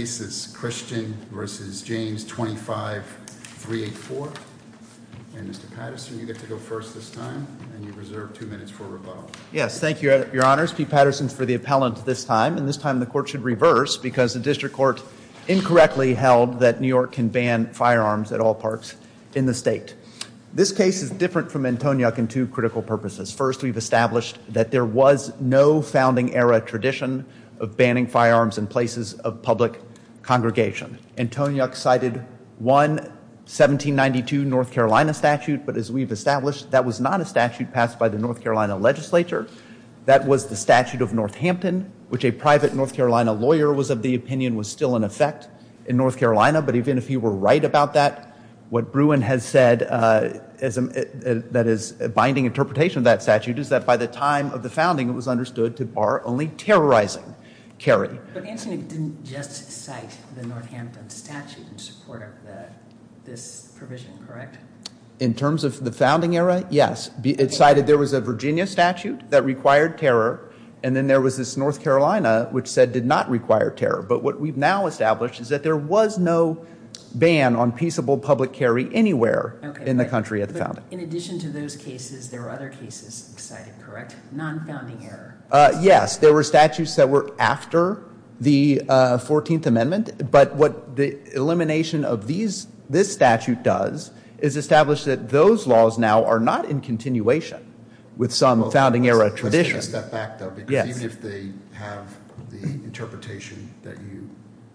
cases, Christian v. James 25384, and Mr. Patterson, you get to go first this time, and you're reserved two minutes for rebuttal. Yes, thank you, your honors. Pete Patterson for the appellant this time, and this time the court should reverse because the district court incorrectly held that New York can ban firearms at all parks in the state. This case is different from Antoniuk in two critical purposes. First, we've established that there was no founding era tradition of banning firearms in places of public congregation. Antoniuk cited one 1792 North Carolina statute, but as we've established, that was not a statute passed by the North Carolina legislature. That was the statute of Northampton, which a private North Carolina lawyer was of the opinion was still in effect in North Carolina, but even if you were right about that, what Bruin has said that is a binding interpretation of that statute is that by the time of the Antoniuk didn't just cite the Northampton statute in support of this provision, correct? In terms of the founding era, yes, it cited there was a Virginia statute that required terror, and then there was this North Carolina which said did not require terror, but what we've now established is that there was no ban on peaceable public carry anywhere in the country at the founding. Okay, but in addition to those cases, there were other cases cited, correct, non-founding era? Yes, there were statutes that were after the 14th Amendment, but what the elimination of this statute does is establish that those laws now are not in continuation with some founding era tradition. Let's take a step back though, because even if they have the interpretation that you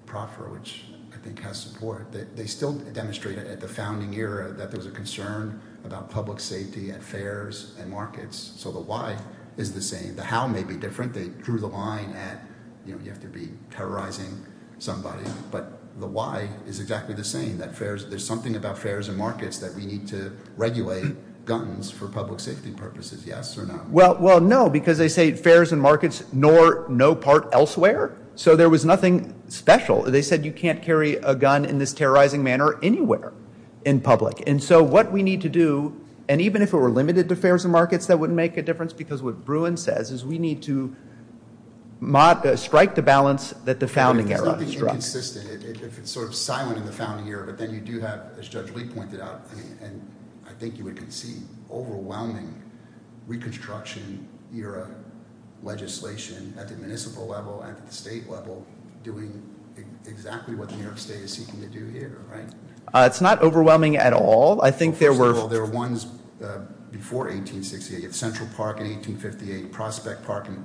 proffer, which I think has support, they still demonstrate at the founding era that there was a concern about public safety at fairs and markets, so the why is the same. The how may be different. They drew the line at, you know, you have to be terrorizing somebody, but the why is exactly the same, that there's something about fairs and markets that we need to regulate guns for public safety purposes, yes or no? Well, no, because they say fairs and markets nor no part elsewhere, so there was nothing special. They said you can't carry a gun in this terrorizing manner anywhere in public, and so what we need to do, and even if it were limited to fairs and markets, that wouldn't make a difference, because what Bruin says is we need to strike the balance that the founding era struck. There's something inconsistent. It's sort of silent in the founding era, but then you do have, as Judge Lee pointed out, and I think you would concede, overwhelming reconstruction era legislation at the municipal level and at the state level doing exactly what the New York State is seeking to do here, right? It's not overwhelming at all. First of all, there were ones before 1868, Central Park in 1858, Prospect Park in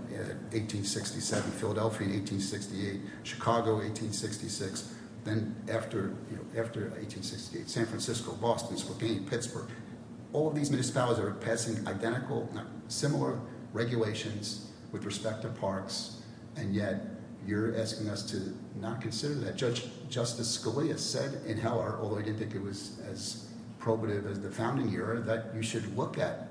1867, Philadelphia in 1868, Chicago in 1866, then after 1868, San Francisco, Boston, Spokane, All of these municipalities are passing identical, similar regulations with respect to parks, and yet you're asking us to not consider that. Judge Justice Scalia said in Heller, although I didn't think it was as probative as the founding era, that you should look at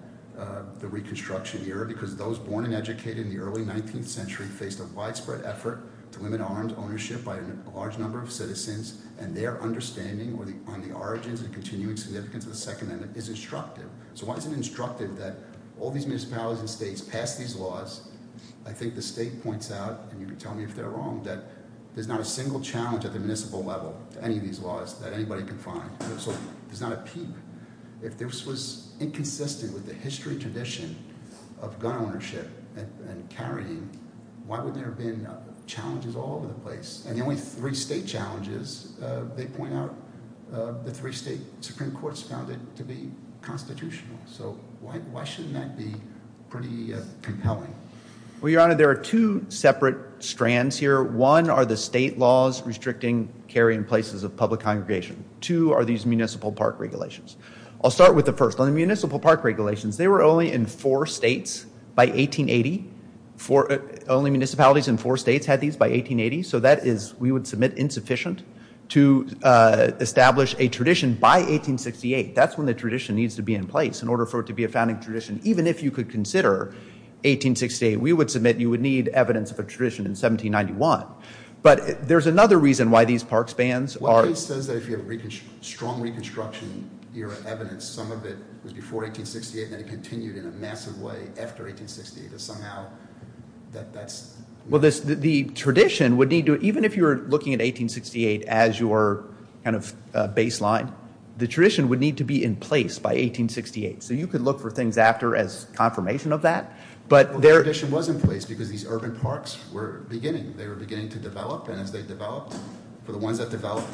the reconstruction era, because those born and educated in the early 19th century faced a widespread effort to limit arms ownership by a large number of citizens, and their understanding on the origins and continuing significance of the Second Amendment is instructive. So why is it instructive that all these municipalities and states pass these laws? I think the state points out, and you can tell me if they're wrong, that there's not a single challenge at the municipal level to any of these laws that anybody can find. There's not a peep. If this was inconsistent with the history and tradition of gun ownership and carrying, why would there have been challenges all over the place? And the only three state challenges, they point out, the three state Supreme Courts found it to be constitutional. So why shouldn't that be pretty compelling? Well, Your Honor, there are two separate strands here. One are the state laws restricting carrying places of public congregation. Two are these municipal park regulations. I'll start with the first. On the municipal park regulations, they were only in four states by 1880. Only municipalities in four states had these by 1880. So that is, we would submit, insufficient to establish a tradition by 1868. That's when the tradition needs to be in place in order for it to be a founding tradition. Even if you could consider 1868, we would submit you would need evidence of a tradition in 1791. But there's another reason why these park spans are... One case says that if you have a strong Reconstruction era evidence, some of it was before 1868 and then it continued in a massive way after 1868. That somehow, that that's... Well, the tradition would need to, even if you were looking at 1868 as your kind of baseline, the tradition would need to be in place by 1868. So you could look for things after as confirmation of that, but there... The tradition was in place because these urban parks were beginning. They were beginning to develop and as they developed, for the ones that developed,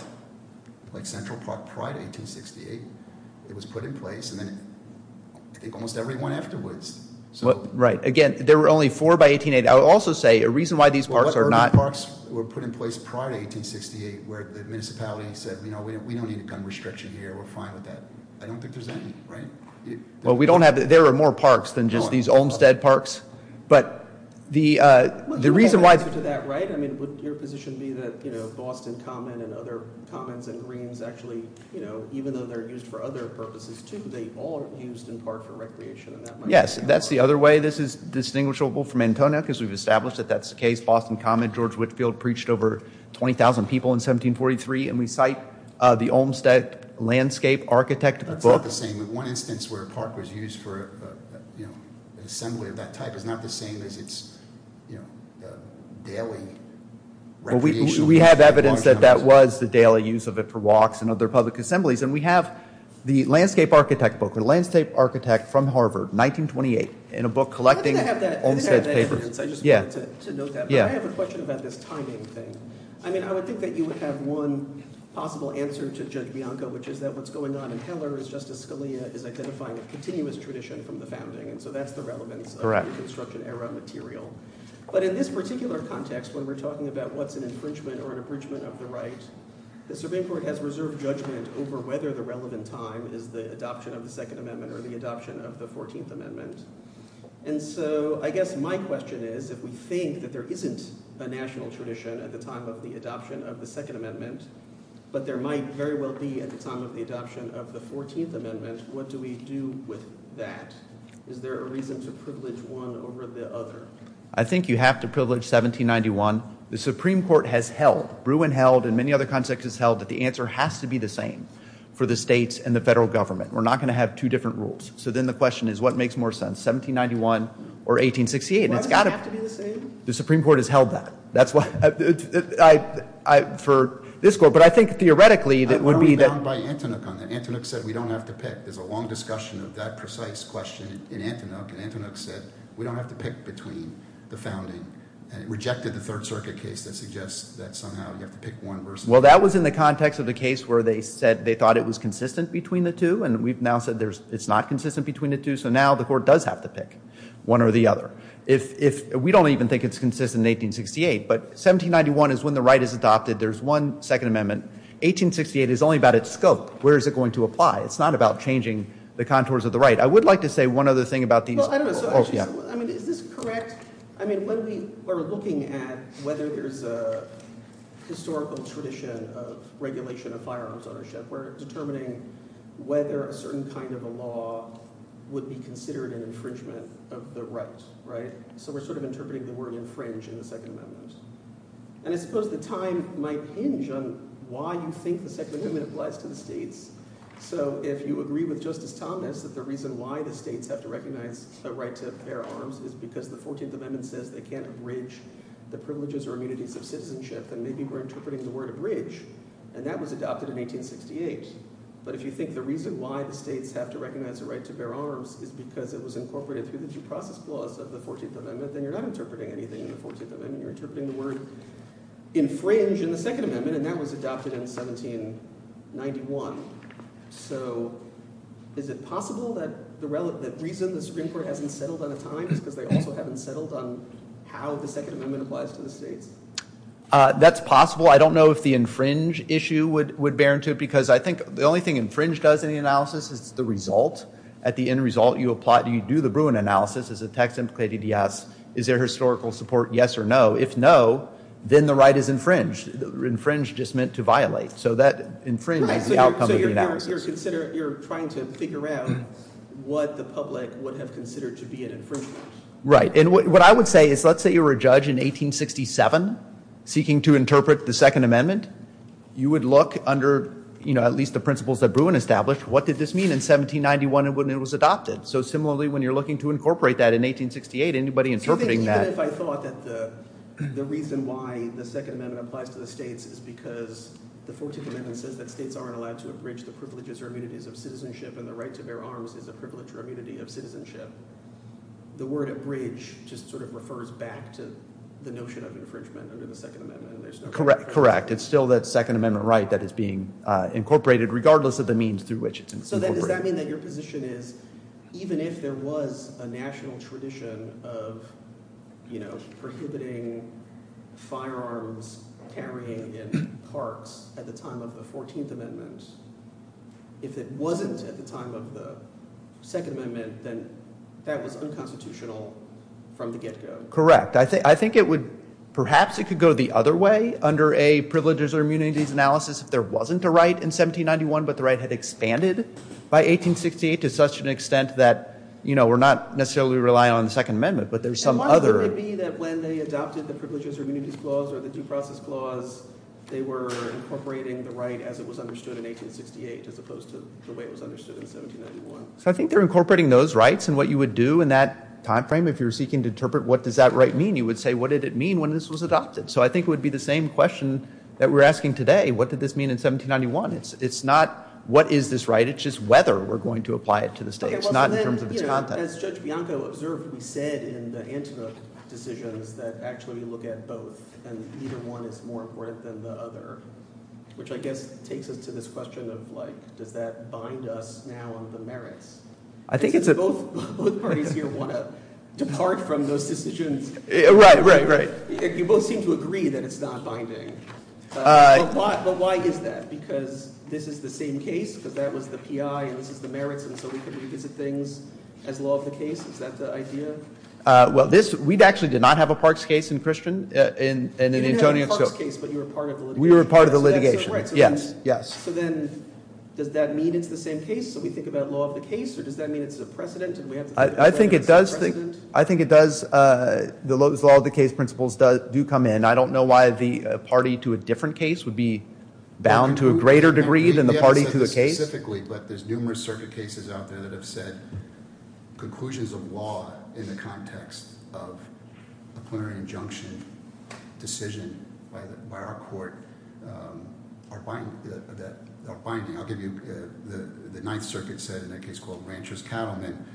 like Central Park prior to 1868, it was put in place. And then I think almost everyone afterwards. Right. Again, there were only four by 1880. I would also say a reason why these parks are not... Well, urban parks were put in place prior to 1868 where the municipality said, you know, we don't need a gun restriction here. We're fine with that. I don't think there's any, right? Well, we don't have... There are more parks than just these Olmstead parks. But the reason why... To that right, I mean, would your position be that, you know, Boston Common and other commons and greens actually, you know, even though they're used for other purposes too, they all are used in part for recreation? Yes, that's the other way this is distinguishable from Antonia, because we've established that that's the case. Boston Common, George Whitefield preached over 20,000 people in 1743. And we cite the Olmstead landscape architect book. That's not the same. One instance where a park was used for, you know, an assembly of that type is not the same as its, you know, daily recreation. Well, we have evidence that that was the daily use of it for walks and other public assemblies. And we have the landscape architect book. A landscape architect from Harvard, 1928, in a book collecting Olmstead's papers. I didn't have that evidence. I just wanted to note that. But I have a question about this timing thing. I mean, I would think that you would have one possible answer to Judge Bianco, which is that what's going on in Heller is Justice Scalia is identifying a continuous tradition from the founding. And so that's the relevance of the Reconstruction Era material. But in this particular context, when we're talking about what's an infringement or an abridgment of the right, the Surveying Court has reserved judgment over whether the relevant time is the adoption of the Second Amendment or the adoption of the Fourteenth Amendment. And so I guess my question is, if we think that there isn't a national tradition at the time of the adoption of the Second Amendment, but there might very well be at the time of the adoption of the Fourteenth Amendment, what do we do with that? Is there a reason to privilege one over the other? I think you have to privilege 1791. The Supreme Court has held, Bruin held, and many other contexts has held, that the answer has to be the same for the states and the federal government. We're not going to have two different rules. So then the question is, what makes more sense, 1791 or 1868? Why does it have to be the same? The Supreme Court has held that for this court. But I think, theoretically, it would be that... I don't mean to bound by Antinouk on that. Antinouk said we don't have to pick. There's a long discussion of that precise question in Antinouk. And Antinouk said we don't have to pick between the founding. It rejected the Third Circuit case that suggests that somehow you have to pick one versus the other. Well, that was in the context of the case where they said they thought it was consistent between the two. And we've now said it's not consistent between the two. So now the court does have to pick one or the other. We don't even think it's consistent in 1868. But 1791 is when the right is adopted. There's one Second Amendment. 1868 is only about its scope. Where is it going to apply? It's not about changing the contours of the right. I would like to say one other thing about these rules. I mean, is this correct? I mean, when we are looking at whether there's a historical tradition of regulation of firearms ownership, we're determining whether a certain kind of a law would be considered an infringement of the right. So we're sort of interpreting the word infringe in the Second Amendment. And I suppose the time might hinge on why you think the Second Amendment applies to the states. So if you agree with Justice Thomas that the reason why the states have to recognize the right to bear arms is because the 14th Amendment says they can't abridge the privileges or immunities of citizenship, then maybe we're interpreting the word abridge. And that was adopted in 1868. But if you think the reason why the states have to recognize the right to bear arms is because it was incorporated through the due process clause of the 14th Amendment, then you're not interpreting anything in the 14th Amendment. You're interpreting the word infringe in the Second Amendment. And that was adopted in 1791. So is it possible that the reason the Supreme Court hasn't settled on a time is because they also haven't settled on how the Second Amendment applies to the states? That's possible. I don't know if the infringe issue would bear into it because I think the only thing infringe does in the analysis is the result. At the end result, you do the Bruin analysis. Is the text implicated? Yes. Is there historical support? Yes or no. If no, then the right is infringed. Infringed just meant to violate. So that infringe is the outcome of the analysis. So you're trying to figure out what the public would have considered to be an infringement. Right. What I would say is let's say you were a judge in 1867 seeking to interpret the Second Amendment. You would look under at least the principles that Bruin established. What did this mean in 1791 when it was adopted? So similarly, when you're looking to incorporate that in 1868, anybody interpreting that— Even if I thought that the reason why the Second Amendment applies to the states is because the 14th Amendment says that states aren't allowed to abridge the privileges or immunities of citizenship and the right to bear arms is a privilege or immunity of citizenship. The word abridge just sort of refers back to the notion of infringement under the Second Amendment. Correct. It's still that Second Amendment right that is being incorporated regardless of the means through which it's incorporated. So does that mean that your position is even if there was a national tradition of prohibiting firearms carrying in parks at the time of the 14th Amendment, if it wasn't at the time of the Second Amendment, then that was unconstitutional from the get-go? I think it would—perhaps it could go the other way under a privileges or immunities analysis if there wasn't a right in 1791, but the right had expanded by 1868 to such an extent that we're not necessarily relying on the Second Amendment, but there's some other— And why would it be that when they adopted the privileges or immunities clause or the due process clause, they were incorporating the right as it was understood in 1868 as opposed to the way it was understood in 1791? I think they're incorporating those rights and what you would do in that time frame if you're seeking to interpret what does that right mean, you would say what did it mean when this was adopted? So I think it would be the same question that we're asking today. What did this mean in 1791? It's not what is this right? It's just whether we're going to apply it to the state. It's not in terms of its content. As Judge Bianco observed, we said in the Antenna decisions that actually we look at both and either one is more important than the other, which I guess takes us to this question of like does that bind us now on the merits? I think it's a— Because both parties here want to depart from those decisions. Right, right, right. You both seem to agree that it's not binding. But why is that? Because this is the same case, because that was the P.I. and this is the merits, and so we can revisit things as law of the case? Is that the idea? Well, this—we actually did not have a Parks case in Christian— You did have a Parks case, but you were part of the litigation. We were part of the litigation. Yes, yes. So then does that mean it's the same case? So we think about law of the case or does that mean it's a precedent? I think it does—I think it does—the law of the case principles do come in. I don't know why the party to a different case would be bound to a greater degree than the party to the case. Specifically, but there's numerous circuit cases out there that have said conclusions of law in the context of a plenary injunction decision by our court are binding. I'll give you—the Ninth Circuit said in a case called Rancher's Cattlemen,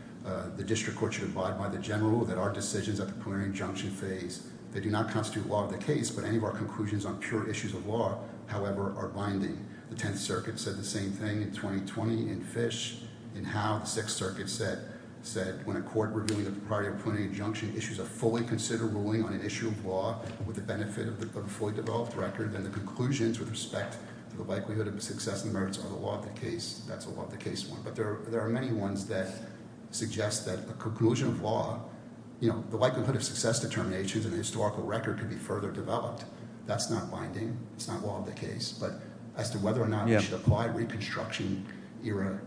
the district court should abide by the general rule that our decisions at the plenary injunction phase, they do not constitute law of the case, but any of our conclusions on pure issues of law, however, are binding. The Tenth Circuit said the same thing in 2020 in Fish. In Howe, the Sixth Circuit said, when a court reviewing the propriety of a plenary injunction issues a fully considered ruling on an issue of law with the benefit of a fully developed record, then the conclusions with respect to the likelihood of success and merits are the law of the case. That's a law of the case one. But there are many ones that suggest that a conclusion of law, you know, the likelihood of success determinations in a historical record could be further developed. That's not binding. It's not law of the case. But as to whether or not we should apply reconstruction era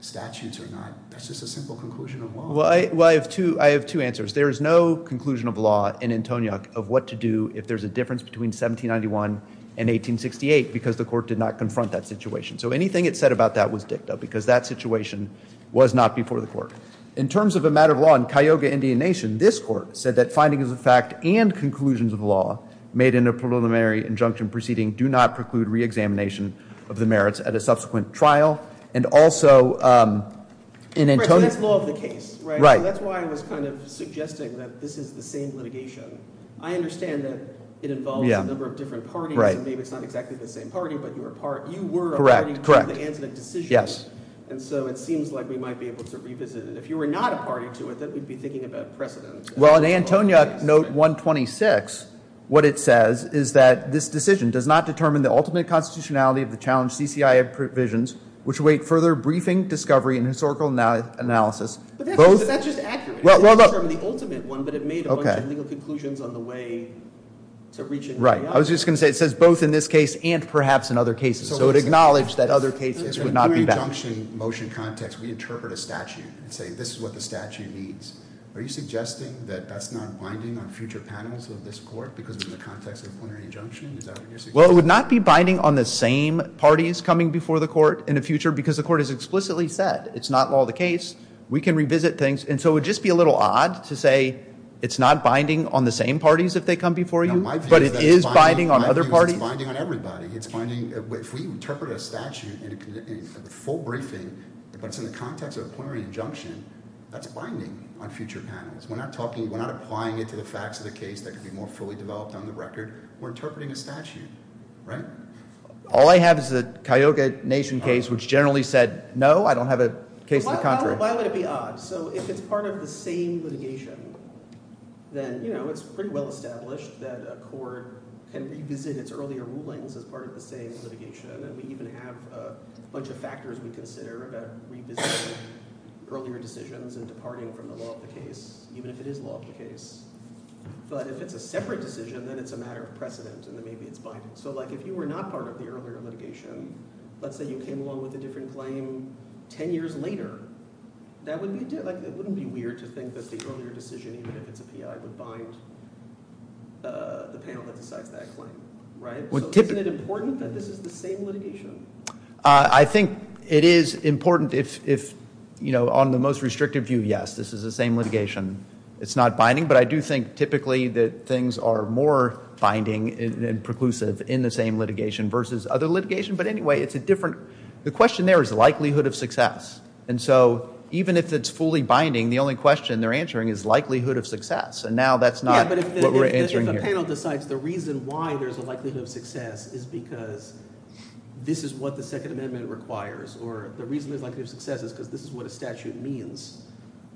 statutes or not, that's just a simple conclusion of law. Well, I have two answers. There is no conclusion of law in Antoniuk of what to do if there's a difference between 1791 and 1868 because the court did not confront that situation. So anything it said about that was dicta because that situation was not before the court. In terms of a matter of law in Cayuga Indian Nation, this court said that finding of the fact and conclusions of law made in a preliminary injunction proceeding do not preclude reexamination of the merits at a subsequent trial. And also in Antoniuk- Right. So that's law of the case. Right. So that's why I was kind of suggesting that this is the same litigation. I understand that it involves a number of different parties. And maybe it's not exactly the same party, but you were a party- Correct. Correct. To the Antoniuk decision. Yes. And so it seems like we might be able to revisit it. If you were not a party to it, then we'd be thinking about precedent. Well, in Antoniuk note 126, what it says is that this decision does not determine the ultimate constitutionality of the challenged CCIA provisions which await further briefing, discovery, and historical analysis. But that's just accurate. It doesn't determine the ultimate one, but it made a bunch of legal conclusions on the way to reaching reality. I was just going to say it says both in this case and perhaps in other cases. So it acknowledged that other cases would not be valid. In a preliminary injunction motion context, we interpret a statute and say this is what the statute needs. Are you suggesting that that's not binding on future panels of this court because of the context of a preliminary injunction? Is that what you're suggesting? Well, it would not be binding on the same parties coming before the court in the future because the court has explicitly said it's not law of the case. We can revisit things. And so it would just be a little odd to say it's not binding on the same parties if they come before you, but it is binding on other parties. It's binding on everybody. If we interpret a statute in a full briefing, but it's in the context of a preliminary injunction, that's binding on future panels. We're not talking, we're not applying it to the facts of the case that could be more fully developed on the record. We're interpreting a statute, right? All I have is the Cayuga Nation case which generally said no, I don't have a case of the contrary. Why would it be odd? So if it's part of the same litigation, then it's pretty well established that a court can revisit its earlier rulings as part of the same litigation. And we even have a bunch of factors we consider about revisiting earlier decisions and departing from the law of the case, even if it is law of the case. But if it's a separate decision, then it's a matter of precedent and then maybe it's binding. So if you were not part of the earlier litigation, let's say you came along with a different claim ten years later, that wouldn't be weird to think that the earlier decision, even if it's a PI, would bind the panel that decides that claim, right? So isn't it important that this is the same litigation? I think it is important if, you know, on the most restrictive view, yes, this is the same litigation. It's not binding, but I do think typically that things are more binding and preclusive in the same litigation versus other litigation. But anyway, the question there is likelihood of success. And so even if it's fully binding, the only question they're answering is likelihood of success. And now that's not what we're answering here. Yeah, but if the panel decides the reason why there's a likelihood of success is because this is what the Second Amendment requires or the reason there's likelihood of success is because this is what a statute means,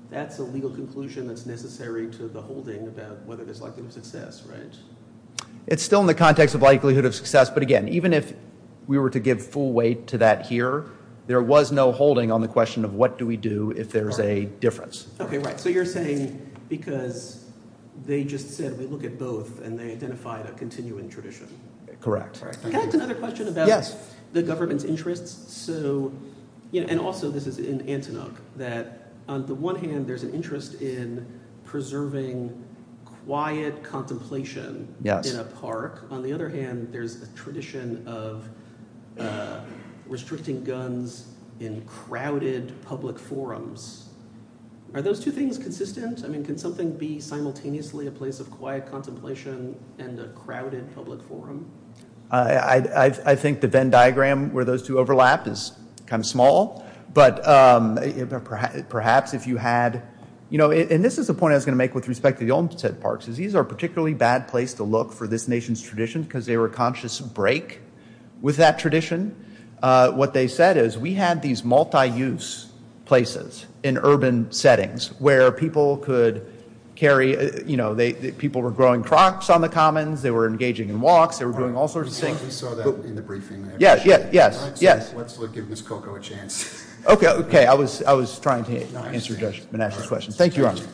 that's a legal conclusion that's necessary to the holding about whether there's likelihood of success, right? It's still in the context of likelihood of success. But again, even if we were to give full weight to that here, there was no holding on the question of what do we do if there's a difference. Okay, right. So you're saying because they just said we look at both and they identified a continuing tradition. Can I ask another question about the government's interests? So, and also this is in Antinuk, that on the one hand, there's an interest in preserving quiet contemplation in a park. On the other hand, there's a tradition of restricting guns in crowded public forums. Are those two things consistent? I mean, can something be simultaneously a place of quiet contemplation and a crowded public forum? I think the Venn diagram where those two overlap is kind of small. But perhaps if you had, you know, and this is a point I was going to make with respect to the Olmsted parks. These are a particularly bad place to look for this nation's tradition because they were a conscious break with that tradition. What they said is we had these multi-use places in urban settings where people could carry, you know, people were growing crops on the commons, they were engaging in walks, they were doing all sorts of things. We saw that in the briefing. Yes, yes, yes. Let's give Ms. Koko a chance. Okay, okay. I was trying to answer Judge Menashe's question. Thank you, Your Honor.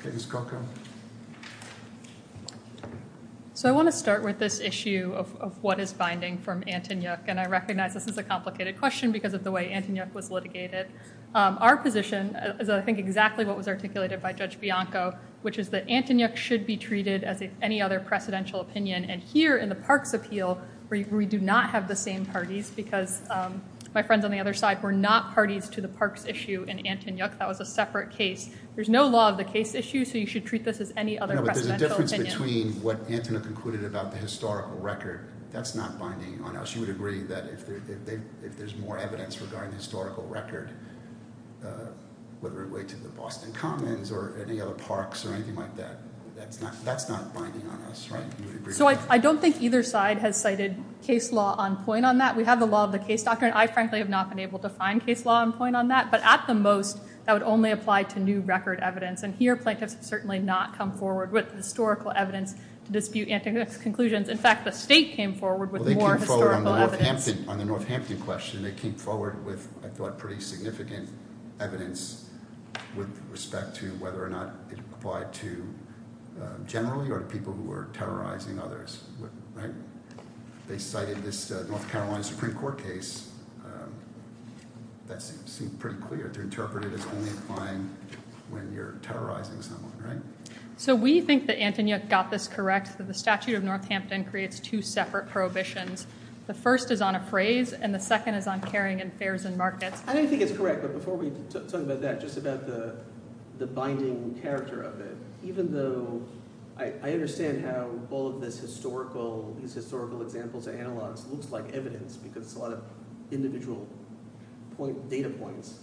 Okay, Ms. Koko. So I want to start with this issue of what is binding from Antonyuk. And I recognize this is a complicated question because of the way Antonyuk was litigated. Our position is, I think, exactly what was articulated by Judge Bianco, which is that Antonyuk should be treated as any other precedential opinion. And here in the parks appeal, we do not have the same parties because my friends on the other side were not parties to the parks issue in Antonyuk. That was a separate case. There's no law of the case issue, so you should treat this as any other precedential opinion. No, but there's a difference between what Antonyuk concluded about the historical record. That's not binding on us. You would agree that if there's more evidence regarding the historical record, whether it relate to the Boston Commons or any other parks or anything like that, that's not binding on us, right? So I don't think either side has cited case law on point on that. We have the law of the case doctrine. I, frankly, have not been able to find case law on point on that. But at the most, that would only apply to new record evidence. And here, plaintiffs have certainly not come forward with historical evidence to dispute Antonyuk's conclusions. In fact, the state came forward with more historical evidence. Well, they came forward on the Northampton question. They came forward with, I thought, pretty significant evidence with respect to whether or not it applied to generally or to people who were terrorizing others, right? They cited this North Carolina Supreme Court case. That seemed pretty clear. They interpreted it as only applying when you're terrorizing someone, right? So we think that Antonyuk got this correct, that the statute of Northampton creates two separate prohibitions. The first is on appraise, and the second is on carrying in fares and markets. I don't think it's correct, but before we talk about that, just about the binding character of it. Even though I understand how all of this historical, these historical examples and analogs looks like evidence because it's a lot of individual data points,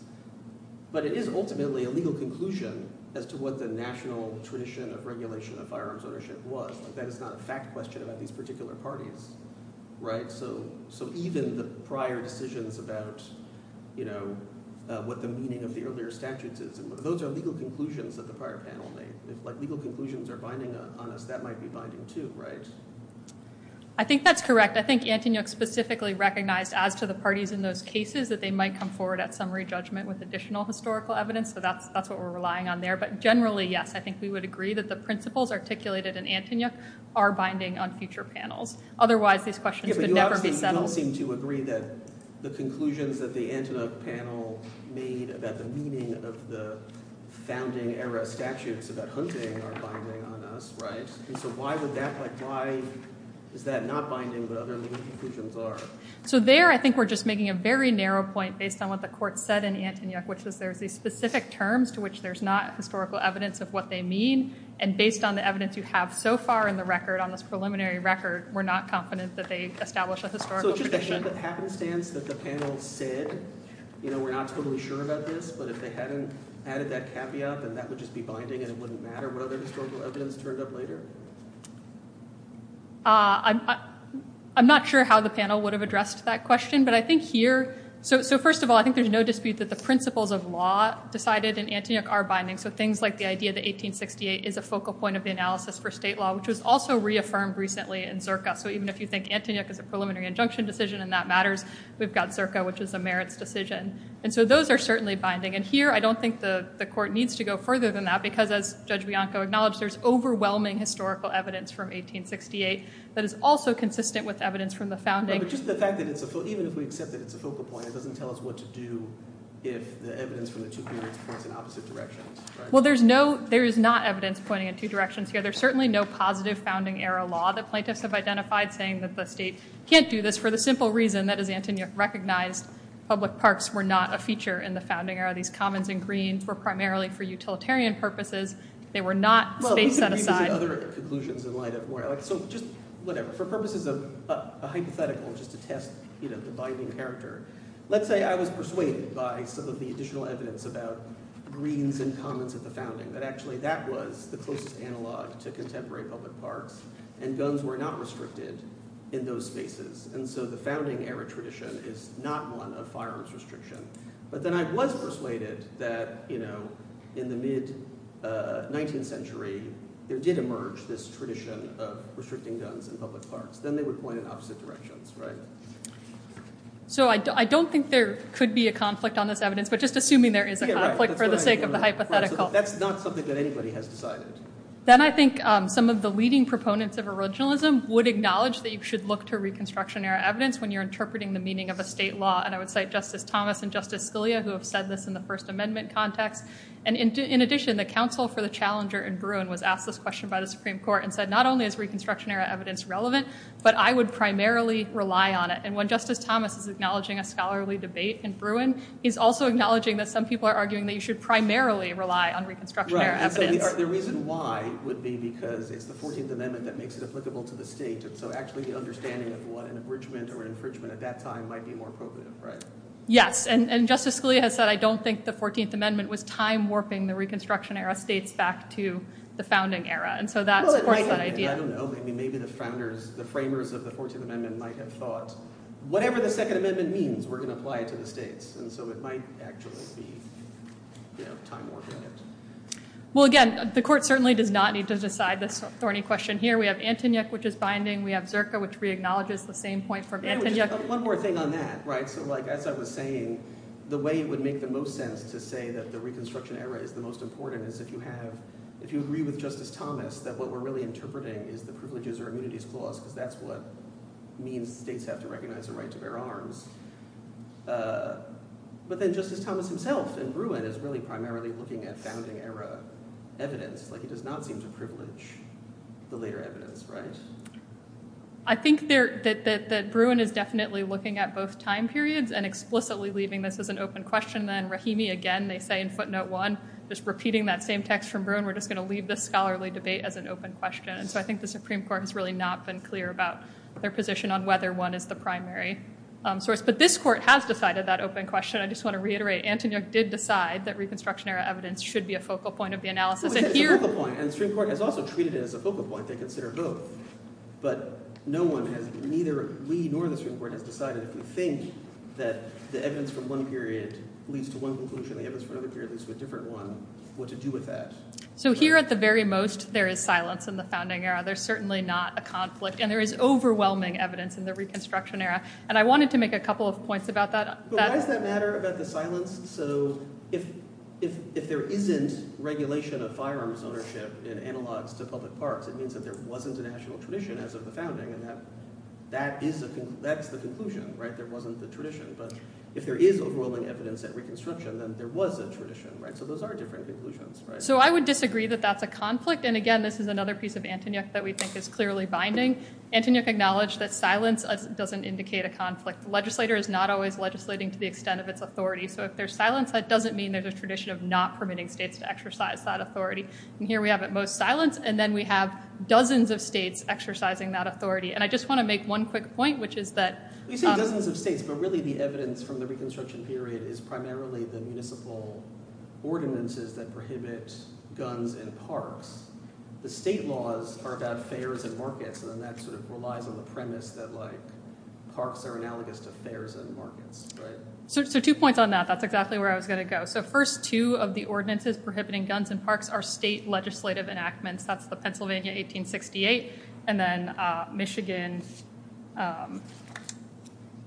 but it is ultimately a legal conclusion as to what the national tradition of regulation of firearms ownership was. That is not a fact question about these particular parties, right? So even the prior decisions about what the meaning of the earlier statutes is, those are legal conclusions that the prior panel made. If legal conclusions are binding on us, that might be binding too, right? I think that's correct. I think Antonyuk specifically recognized as to the parties in those cases that they might come forward at summary judgment with additional historical evidence, so that's what we're relying on there. But generally, yes, I think we would agree that the principles articulated in Antonyuk are binding on future panels. Otherwise, these questions would never be settled. You all seem to agree that the conclusions that the Antonyuk panel made about the meaning of the founding era statutes about hunting are binding on us, right? So why is that not binding but other legal conclusions are? So there, I think we're just making a very narrow point based on what the court said in Antonyuk, which is there's these specific terms to which there's not historical evidence of what they mean, and based on the evidence you have so far in the record, on this preliminary record, we're not confident that they established a historical tradition. So it's just a happenstance that the panel said, you know, we're not totally sure about this, but if they hadn't added that caveat, then that would just be binding and it wouldn't matter what other historical evidence turned up later? I'm not sure how the panel would have addressed that question. But I think here, so first of all, I think there's no dispute that the principles of law decided in Antonyuk are binding. So things like the idea that 1868 is a focal point of the analysis for state law, which was also reaffirmed recently in Zirka. So even if you think Antonyuk is a preliminary injunction decision and that matters, we've got Zirka, which is a merits decision. And so those are certainly binding. And here, I don't think the court needs to go further than that because, as Judge Bianco acknowledged, there's overwhelming historical evidence from 1868 that is also consistent with evidence from the founding. But just the fact that even if we accept that it's a focal point, it doesn't tell us what to do if the evidence from the two periods points in opposite directions, right? Well, there is not evidence pointing in two directions here. There's certainly no positive founding-era law that plaintiffs have identified saying that the state can't do this for the simple reason that, as Antonyuk recognized, public parks were not a feature in the founding era. These commons and greens were primarily for utilitarian purposes. They were not space set aside. Well, let's agree to some other conclusions in light of more. So just, whatever, for purposes of a hypothetical, just to test the binding character, let's say I was persuaded by some of the additional evidence about greens and commons at the founding that actually that was the closest analog to contemporary public parks, and guns were not restricted in those spaces. And so the founding-era tradition is not one of firearms restriction. But then I was persuaded that, you know, in the mid-19th century, there did emerge this tradition of restricting guns in public parks. Then they would point in opposite directions, right? So I don't think there could be a conflict on this evidence, but just assuming there is a conflict for the sake of the hypothetical. That's not something that anybody has decided. Then I think some of the leading proponents of originalism would acknowledge that you should look to Reconstruction-era evidence when you're interpreting the meaning of a state law. And I would cite Justice Thomas and Justice Scalia, who have said this in the First Amendment context. And in addition, the counsel for the challenger in Bruin was asked this question by the Supreme Court and said, not only is Reconstruction-era evidence relevant, but I would primarily rely on it. And when Justice Thomas is acknowledging a scholarly debate in Bruin, he's also acknowledging that some people are arguing that you should primarily rely on Reconstruction-era evidence. And so the reason why would be because it's the 14th Amendment that makes it applicable to the state, and so actually the understanding of what an abridgment or an infringement at that time might be more appropriate, right? Yes, and Justice Scalia has said, I don't think the 14th Amendment was time-warping the Reconstruction-era states back to the founding era. And so that supports that idea. I don't know. Maybe the founders, the framers of the 14th Amendment might have thought, whatever the Second Amendment means, we're going to apply it to the states. And so it might actually be time-warping it. Well, again, the Court certainly does not need to decide this thorny question here. We have Antonyuk, which is binding. We have Zerka, which re-acknowledges the same point from Antonyuk. One more thing on that, right? So, like, as I was saying, the way it would make the most sense to say that the Reconstruction-era is the most important is if you have, if you agree with Justice Thomas that what we're really interpreting is the privileges or immunities clause, because that's what means states have to recognize the right to bear arms. But then Justice Thomas himself in Bruin is really primarily looking at founding-era evidence. Like, he does not seem to privilege the later evidence, right? I think that Bruin is definitely looking at both time periods and explicitly leaving this as an open question. Then Rahimi, again, they say in footnote one, just repeating that same text from Bruin, we're just going to leave this scholarly debate as an open question. And so I think the Supreme Court has really not been clear about their position on whether one is the primary source of evidence. But this court has decided that open question. I just want to reiterate, Antonyuk did decide that Reconstruction-era evidence should be a focal point of the analysis. And here... Well, it is a focal point. And the Supreme Court has also treated it as a focal point. They consider both. But no one has, neither we nor the Supreme Court, has decided if we think that the evidence from one period leads to one conclusion, the evidence from another period leads to a different one, what to do with that. So here at the very most, there is silence in the founding era. There's certainly not a conflict. And there is overwhelming evidence in the Reconstruction-era. And I wanted to make a couple of points about that. But why does that matter about the silence? So if there isn't regulation of firearms ownership in analogs to public parks, it means that there wasn't a national tradition as of the founding. And that's the conclusion, right? There wasn't the tradition. But if there is overwhelming evidence at Reconstruction, then there was a tradition, right? So those are different conclusions, right? So I would disagree that that's a conflict. And again, this is another piece of Antonyuk that we think is clearly binding. Antonyuk acknowledged that silence doesn't indicate a conflict. The legislator is not always legislating to the extent of its authority. So if there's silence, that doesn't mean there's a tradition of not permitting states to exercise that authority. And here we have at most silence. And then we have dozens of states exercising that authority. And I just want to make one quick point, which is that... You say dozens of states. But really the evidence from the Reconstruction period is primarily the municipal ordinances that prohibit guns in parks. The state laws are about fairs and markets. And that sort of relies on the premise that parks are analogous to fairs and markets, right? So two points on that. That's exactly where I was going to go. So first, two of the ordinances prohibiting guns in parks are state legislative enactments. That's the Pennsylvania 1868. And then Michigan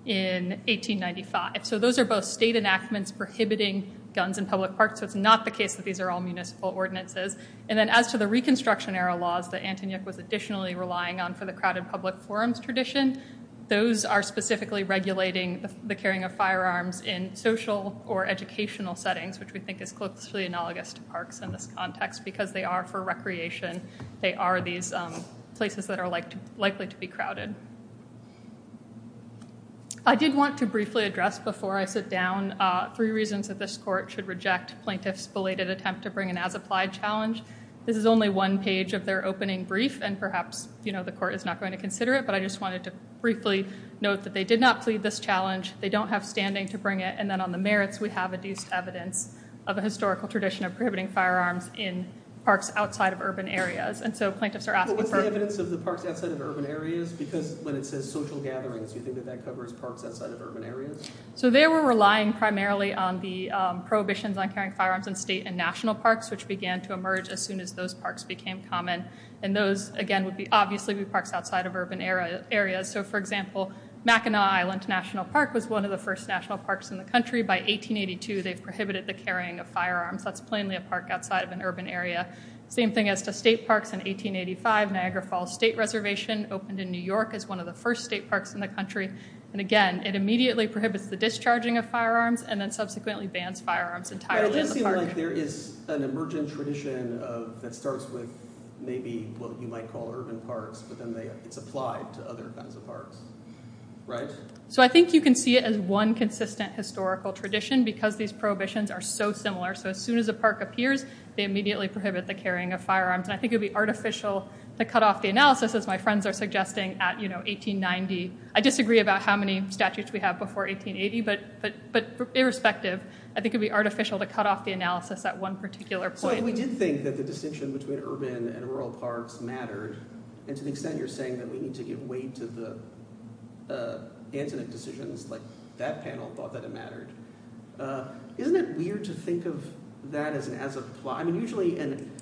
in 1895. So those are both state enactments prohibiting guns in public parks. So it's not the case that these are all municipal ordinances. And then as to the Reconstruction-era laws that Antonyuk was additionally relying on for the crowded public forums tradition, those are specifically regulating the carrying of firearms in social or educational settings, which we think is closely analogous to parks in this context, because they are for recreation. They are these places that are likely to be crowded. I did want to briefly address before I sit down three reasons that this court should reject plaintiffs' belated attempt to bring an as-applied challenge This is only one page of their opening brief, and perhaps, you know, the court is not going to consider it. But I just wanted to briefly note that they did not plead this challenge. They don't have standing to bring it. And then on the merits, we have adduced evidence of a historical tradition of prohibiting firearms in parks outside of urban areas. And so plaintiffs are asking for- But what's the evidence of the parks outside of urban areas? Because when it says social gatherings, you think that that covers parks outside of urban areas? So they were relying primarily on the prohibitions on carrying firearms in state and national parks, which began to emerge as soon as those parks became common. And those, again, would obviously be parks outside of urban areas. So, for example, Mackinac Island National Park was one of the first national parks in the country. By 1882, they've prohibited the carrying of firearms. That's plainly a park outside of an urban area. Same thing as to state parks. In 1885, Niagara Falls State Reservation opened in New York as one of the first state parks in the country. And again, it immediately prohibits the discharging of firearms and then subsequently bans firearms entirely in the park. But it does seem like there is an emergent tradition that starts with maybe what you might call urban parks, but then it's applied to other kinds of parks, right? So I think you can see it as one consistent historical tradition because these prohibitions are so similar. So as soon as a park appears, they immediately prohibit the carrying of firearms. And I think it would be artificial to cut off the analysis, as my friends are suggesting, at 1890. I disagree about how many statutes we have before 1880, but irrespective, I think it would be artificial to cut off the analysis at one particular point. So if we did think that the distinction between urban and rural parks mattered, and to the extent you're saying that we need to give way to the Antoinette decisions, like that panel thought that it mattered, isn't it weird to think of that as an as-applied... I mean, usually an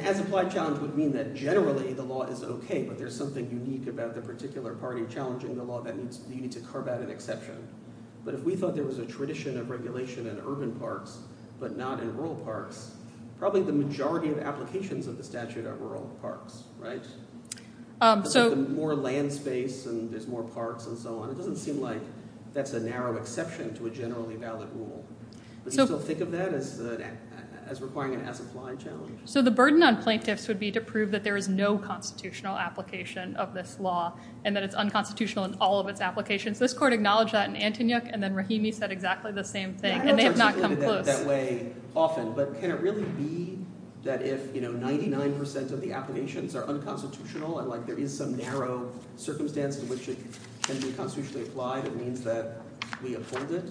as-applied challenge would mean that generally the law is okay, but there's something unique about the particular party challenging the law that you need to carve out an exception. But if we thought there was a tradition of regulation in urban parks, but not in rural parks, probably the majority of applications of the statute are rural parks, right? There's more land space, and there's more parks, and so on. It doesn't seem like that's a narrow exception to a generally valid rule. Do you still think of that as requiring an as-applied challenge? So the burden on plaintiffs would be to prove that there is no constitutional application of this law, and that it's unconstitutional in all of its applications. This court acknowledged that in Antonyuk, and then Rahimi said exactly the same thing, and they have not come close. But can it really be that if 99% of the applications are unconstitutional, and there is some narrow circumstance to which it can be constitutionally applied, it means that we uphold it?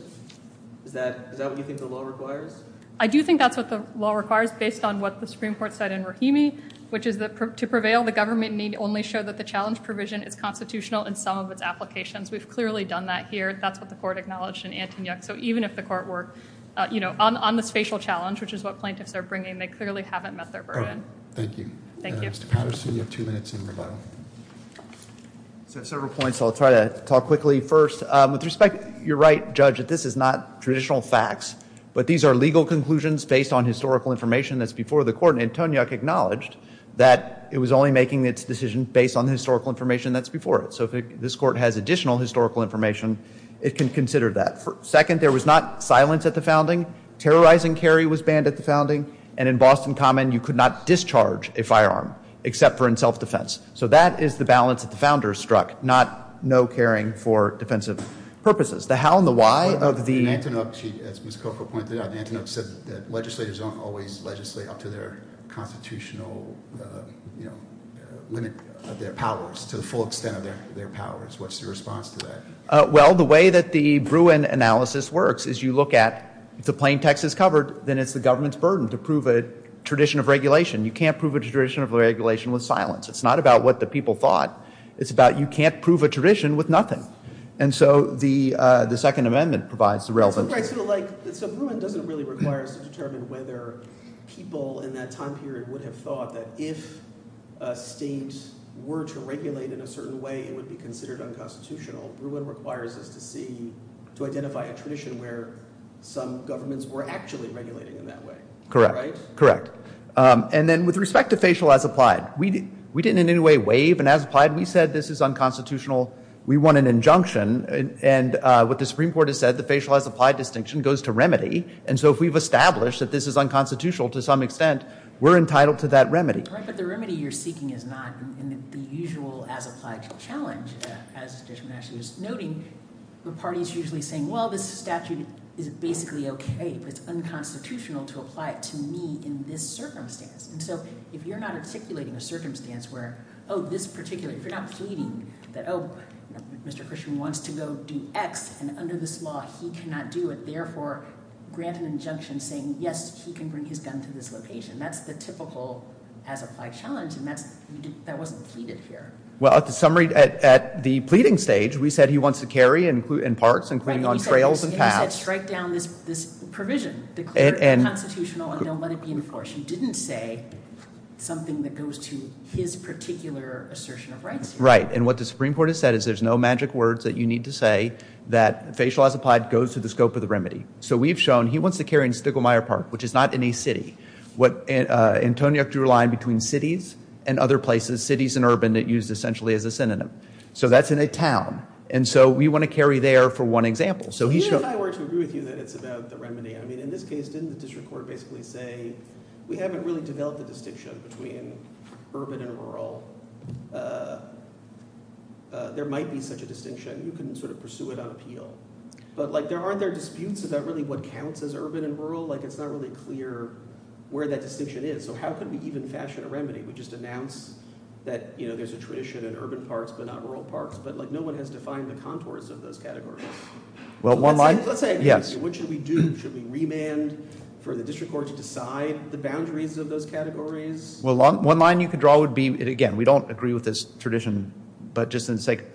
Is that what you think the law requires? I do think that's what the law requires, based on what the Supreme Court said in Rahimi, which is that to prevail, the government need only show that the challenge provision is constitutional in some of its applications. We've clearly done that here. That's what the court acknowledged in Antonyuk. So even if the court were, you know, on this facial challenge, which is what plaintiffs are bringing, they clearly haven't met their burden. Thank you. Mr. Patterson, you have two minutes in rebuttal. I have several points, so I'll try to talk quickly first. With respect, you're right, Judge, that this is not traditional facts, but these are legal conclusions based on historical information that's before the court. Antonyuk acknowledged that it was only making its decision based on the historical information that's before it. So if this court has additional historical information, it can consider that. Second, there was not silence at the founding. Terrorizing carry was banned at the founding. And in Boston Common, you could not discharge a firearm, except for in self-defense. So that is the balance that the founders struck, not no caring for defensive purposes. The how and the why of the- In Antonyuk, as Ms. Coco pointed out, Antonyuk said that legislators don't always legislate up to their constitutional limit of their powers, to the full extent of their powers. What's your response to that? Well, the way that the Bruin analysis works is you look at, if the plain text is covered, then it's the government's burden to prove a tradition of regulation. You can't prove a tradition of regulation with silence. It's not about what the people thought. It's about you can't prove a tradition with nothing. And so the Second Amendment provides the relevance. So Bruin doesn't really require us to determine whether people in that time period would have thought that if a state were to regulate in a certain way, it would be considered unconstitutional. Bruin requires us to see, to identify a tradition where some governments were actually regulating in that way. Correct. Correct. And then with respect to facial as applied, we didn't in any way waive, and as applied, we said this is unconstitutional. We want an injunction. And what the Supreme Court has said, the facial as applied distinction goes to remedy. And so if we've established that this is unconstitutional to some extent, we're entitled to that remedy. Right, but the remedy you're seeking is not the usual as applied challenge, as Judge Menachie was noting. The party is usually saying, well, this statute is basically okay, but it's unconstitutional to apply it to me in this circumstance. And so if you're not articulating a circumstance where, oh, this particular, if you're not pleading that, oh, Mr. Christian wants to go do X, and under this law, he cannot do it, therefore grant an injunction saying, yes, he can bring his gun to this location. That's the typical as applied challenge, and that wasn't pleaded here. Well, at the summary, at the pleading stage, we said he wants to carry and include in parts, including on trails and paths. He said strike down this provision. Declare it unconstitutional and don't let it be enforced. Judge Menachie didn't say something that goes to his particular assertion of rights here. Right, and what the Supreme Court has said is there's no magic words that you need to say that facial as applied goes to the scope of the remedy. So we've shown he wants to carry in Stigglemire Park, which is not in a city. What Antonio drew a line between cities and other places, cities and urban, that used essentially as a synonym. So that's in a town, and so we want to carry there for one example. Even if I were to agree with you that it's about the remedy, I mean, in this case, didn't the district court basically say we haven't really developed a distinction between urban and rural. There might be such a distinction. You can sort of pursue it on appeal. But, like, there aren't there disputes about really what counts as urban and rural. Like, it's not really clear where that distinction is. So how can we even fashion a remedy? We just announced that, you know, there's a tradition in urban parks but not rural parks. But, like, no one has defined the contours of those categories. Well, one line, yes. What should we do? Should we remand for the district court to decide the boundaries of those categories? Well, one line you could draw would be, again, we don't agree with this tradition, but just for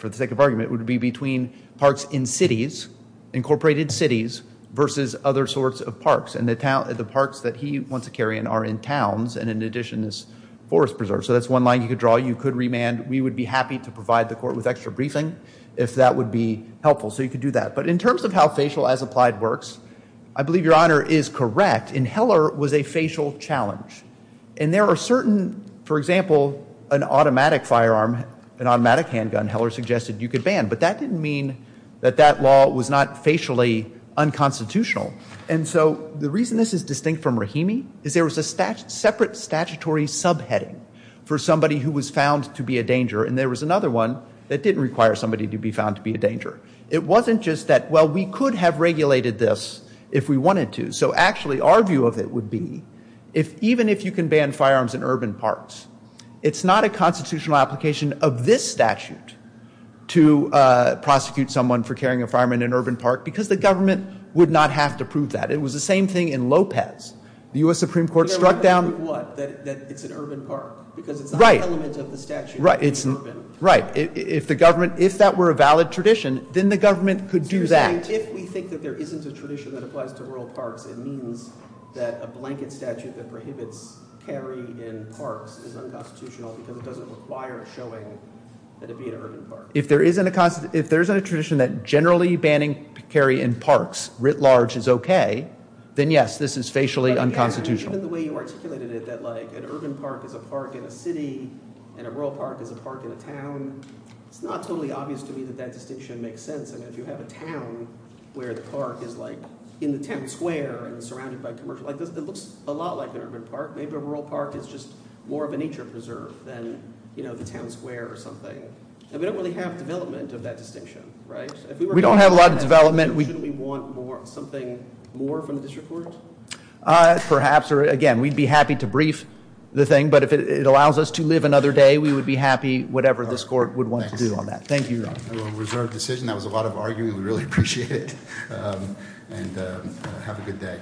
the sake of argument, it would be between parks in cities, incorporated cities, versus other sorts of parks. And the parks that he wants to carry in are in towns, and in addition is forest preserves. So that's one line you could draw. You could remand. We would be happy to provide the court with extra briefing if that would be helpful. So you could do that. But in terms of how facial as applied works, I believe Your Honor is correct. And Heller was a facial challenge. And there are certain, for example, an automatic firearm, an automatic handgun, Heller suggested you could ban. But that didn't mean that that law was not facially unconstitutional. And so the reason this is distinct from Rahimi is there was a separate statutory subheading for somebody who was found to be a danger. And there was another one that didn't require somebody to be found to be a danger. It wasn't just that, well, we could have regulated this if we wanted to. So actually, our view of it would be, even if you can ban firearms in urban parks, it's not a constitutional application of this statute to prosecute someone for carrying a firearm in an urban park because the government would not have to prove that. It was the same thing in Lopez. The U.S. Supreme Court struck down- They're allowed to prove what? That it's an urban park because it's the high element of the statute. Right. Right. If that were a valid tradition, then the government could do that. If we think that there isn't a tradition that applies to rural parks, it means that a blanket statute that prohibits carry in parks is unconstitutional because it doesn't require showing that it be an urban park. If there isn't a tradition that generally banning carry in parks writ large is okay, then yes, this is facially unconstitutional. Even the way you articulated it, that an urban park is a park in a city and a rural park is a park in a town, it's not totally obvious to me that that distinction makes sense. If you have a town where the park is in the town square and surrounded by commercial- It looks a lot like an urban park. Maybe a rural park is just more of a nature preserve than the town square or something. We don't really have development of that distinction, right? We don't have a lot of development. Shouldn't we want something more from the district court? Perhaps. Again, we'd be happy to brief the thing, but if it allows us to live another day, we would be happy whatever this court would want to do on that. Thank you, Your Honor. A reserved decision. That was a lot of arguing. We really appreciate it. Have a good day.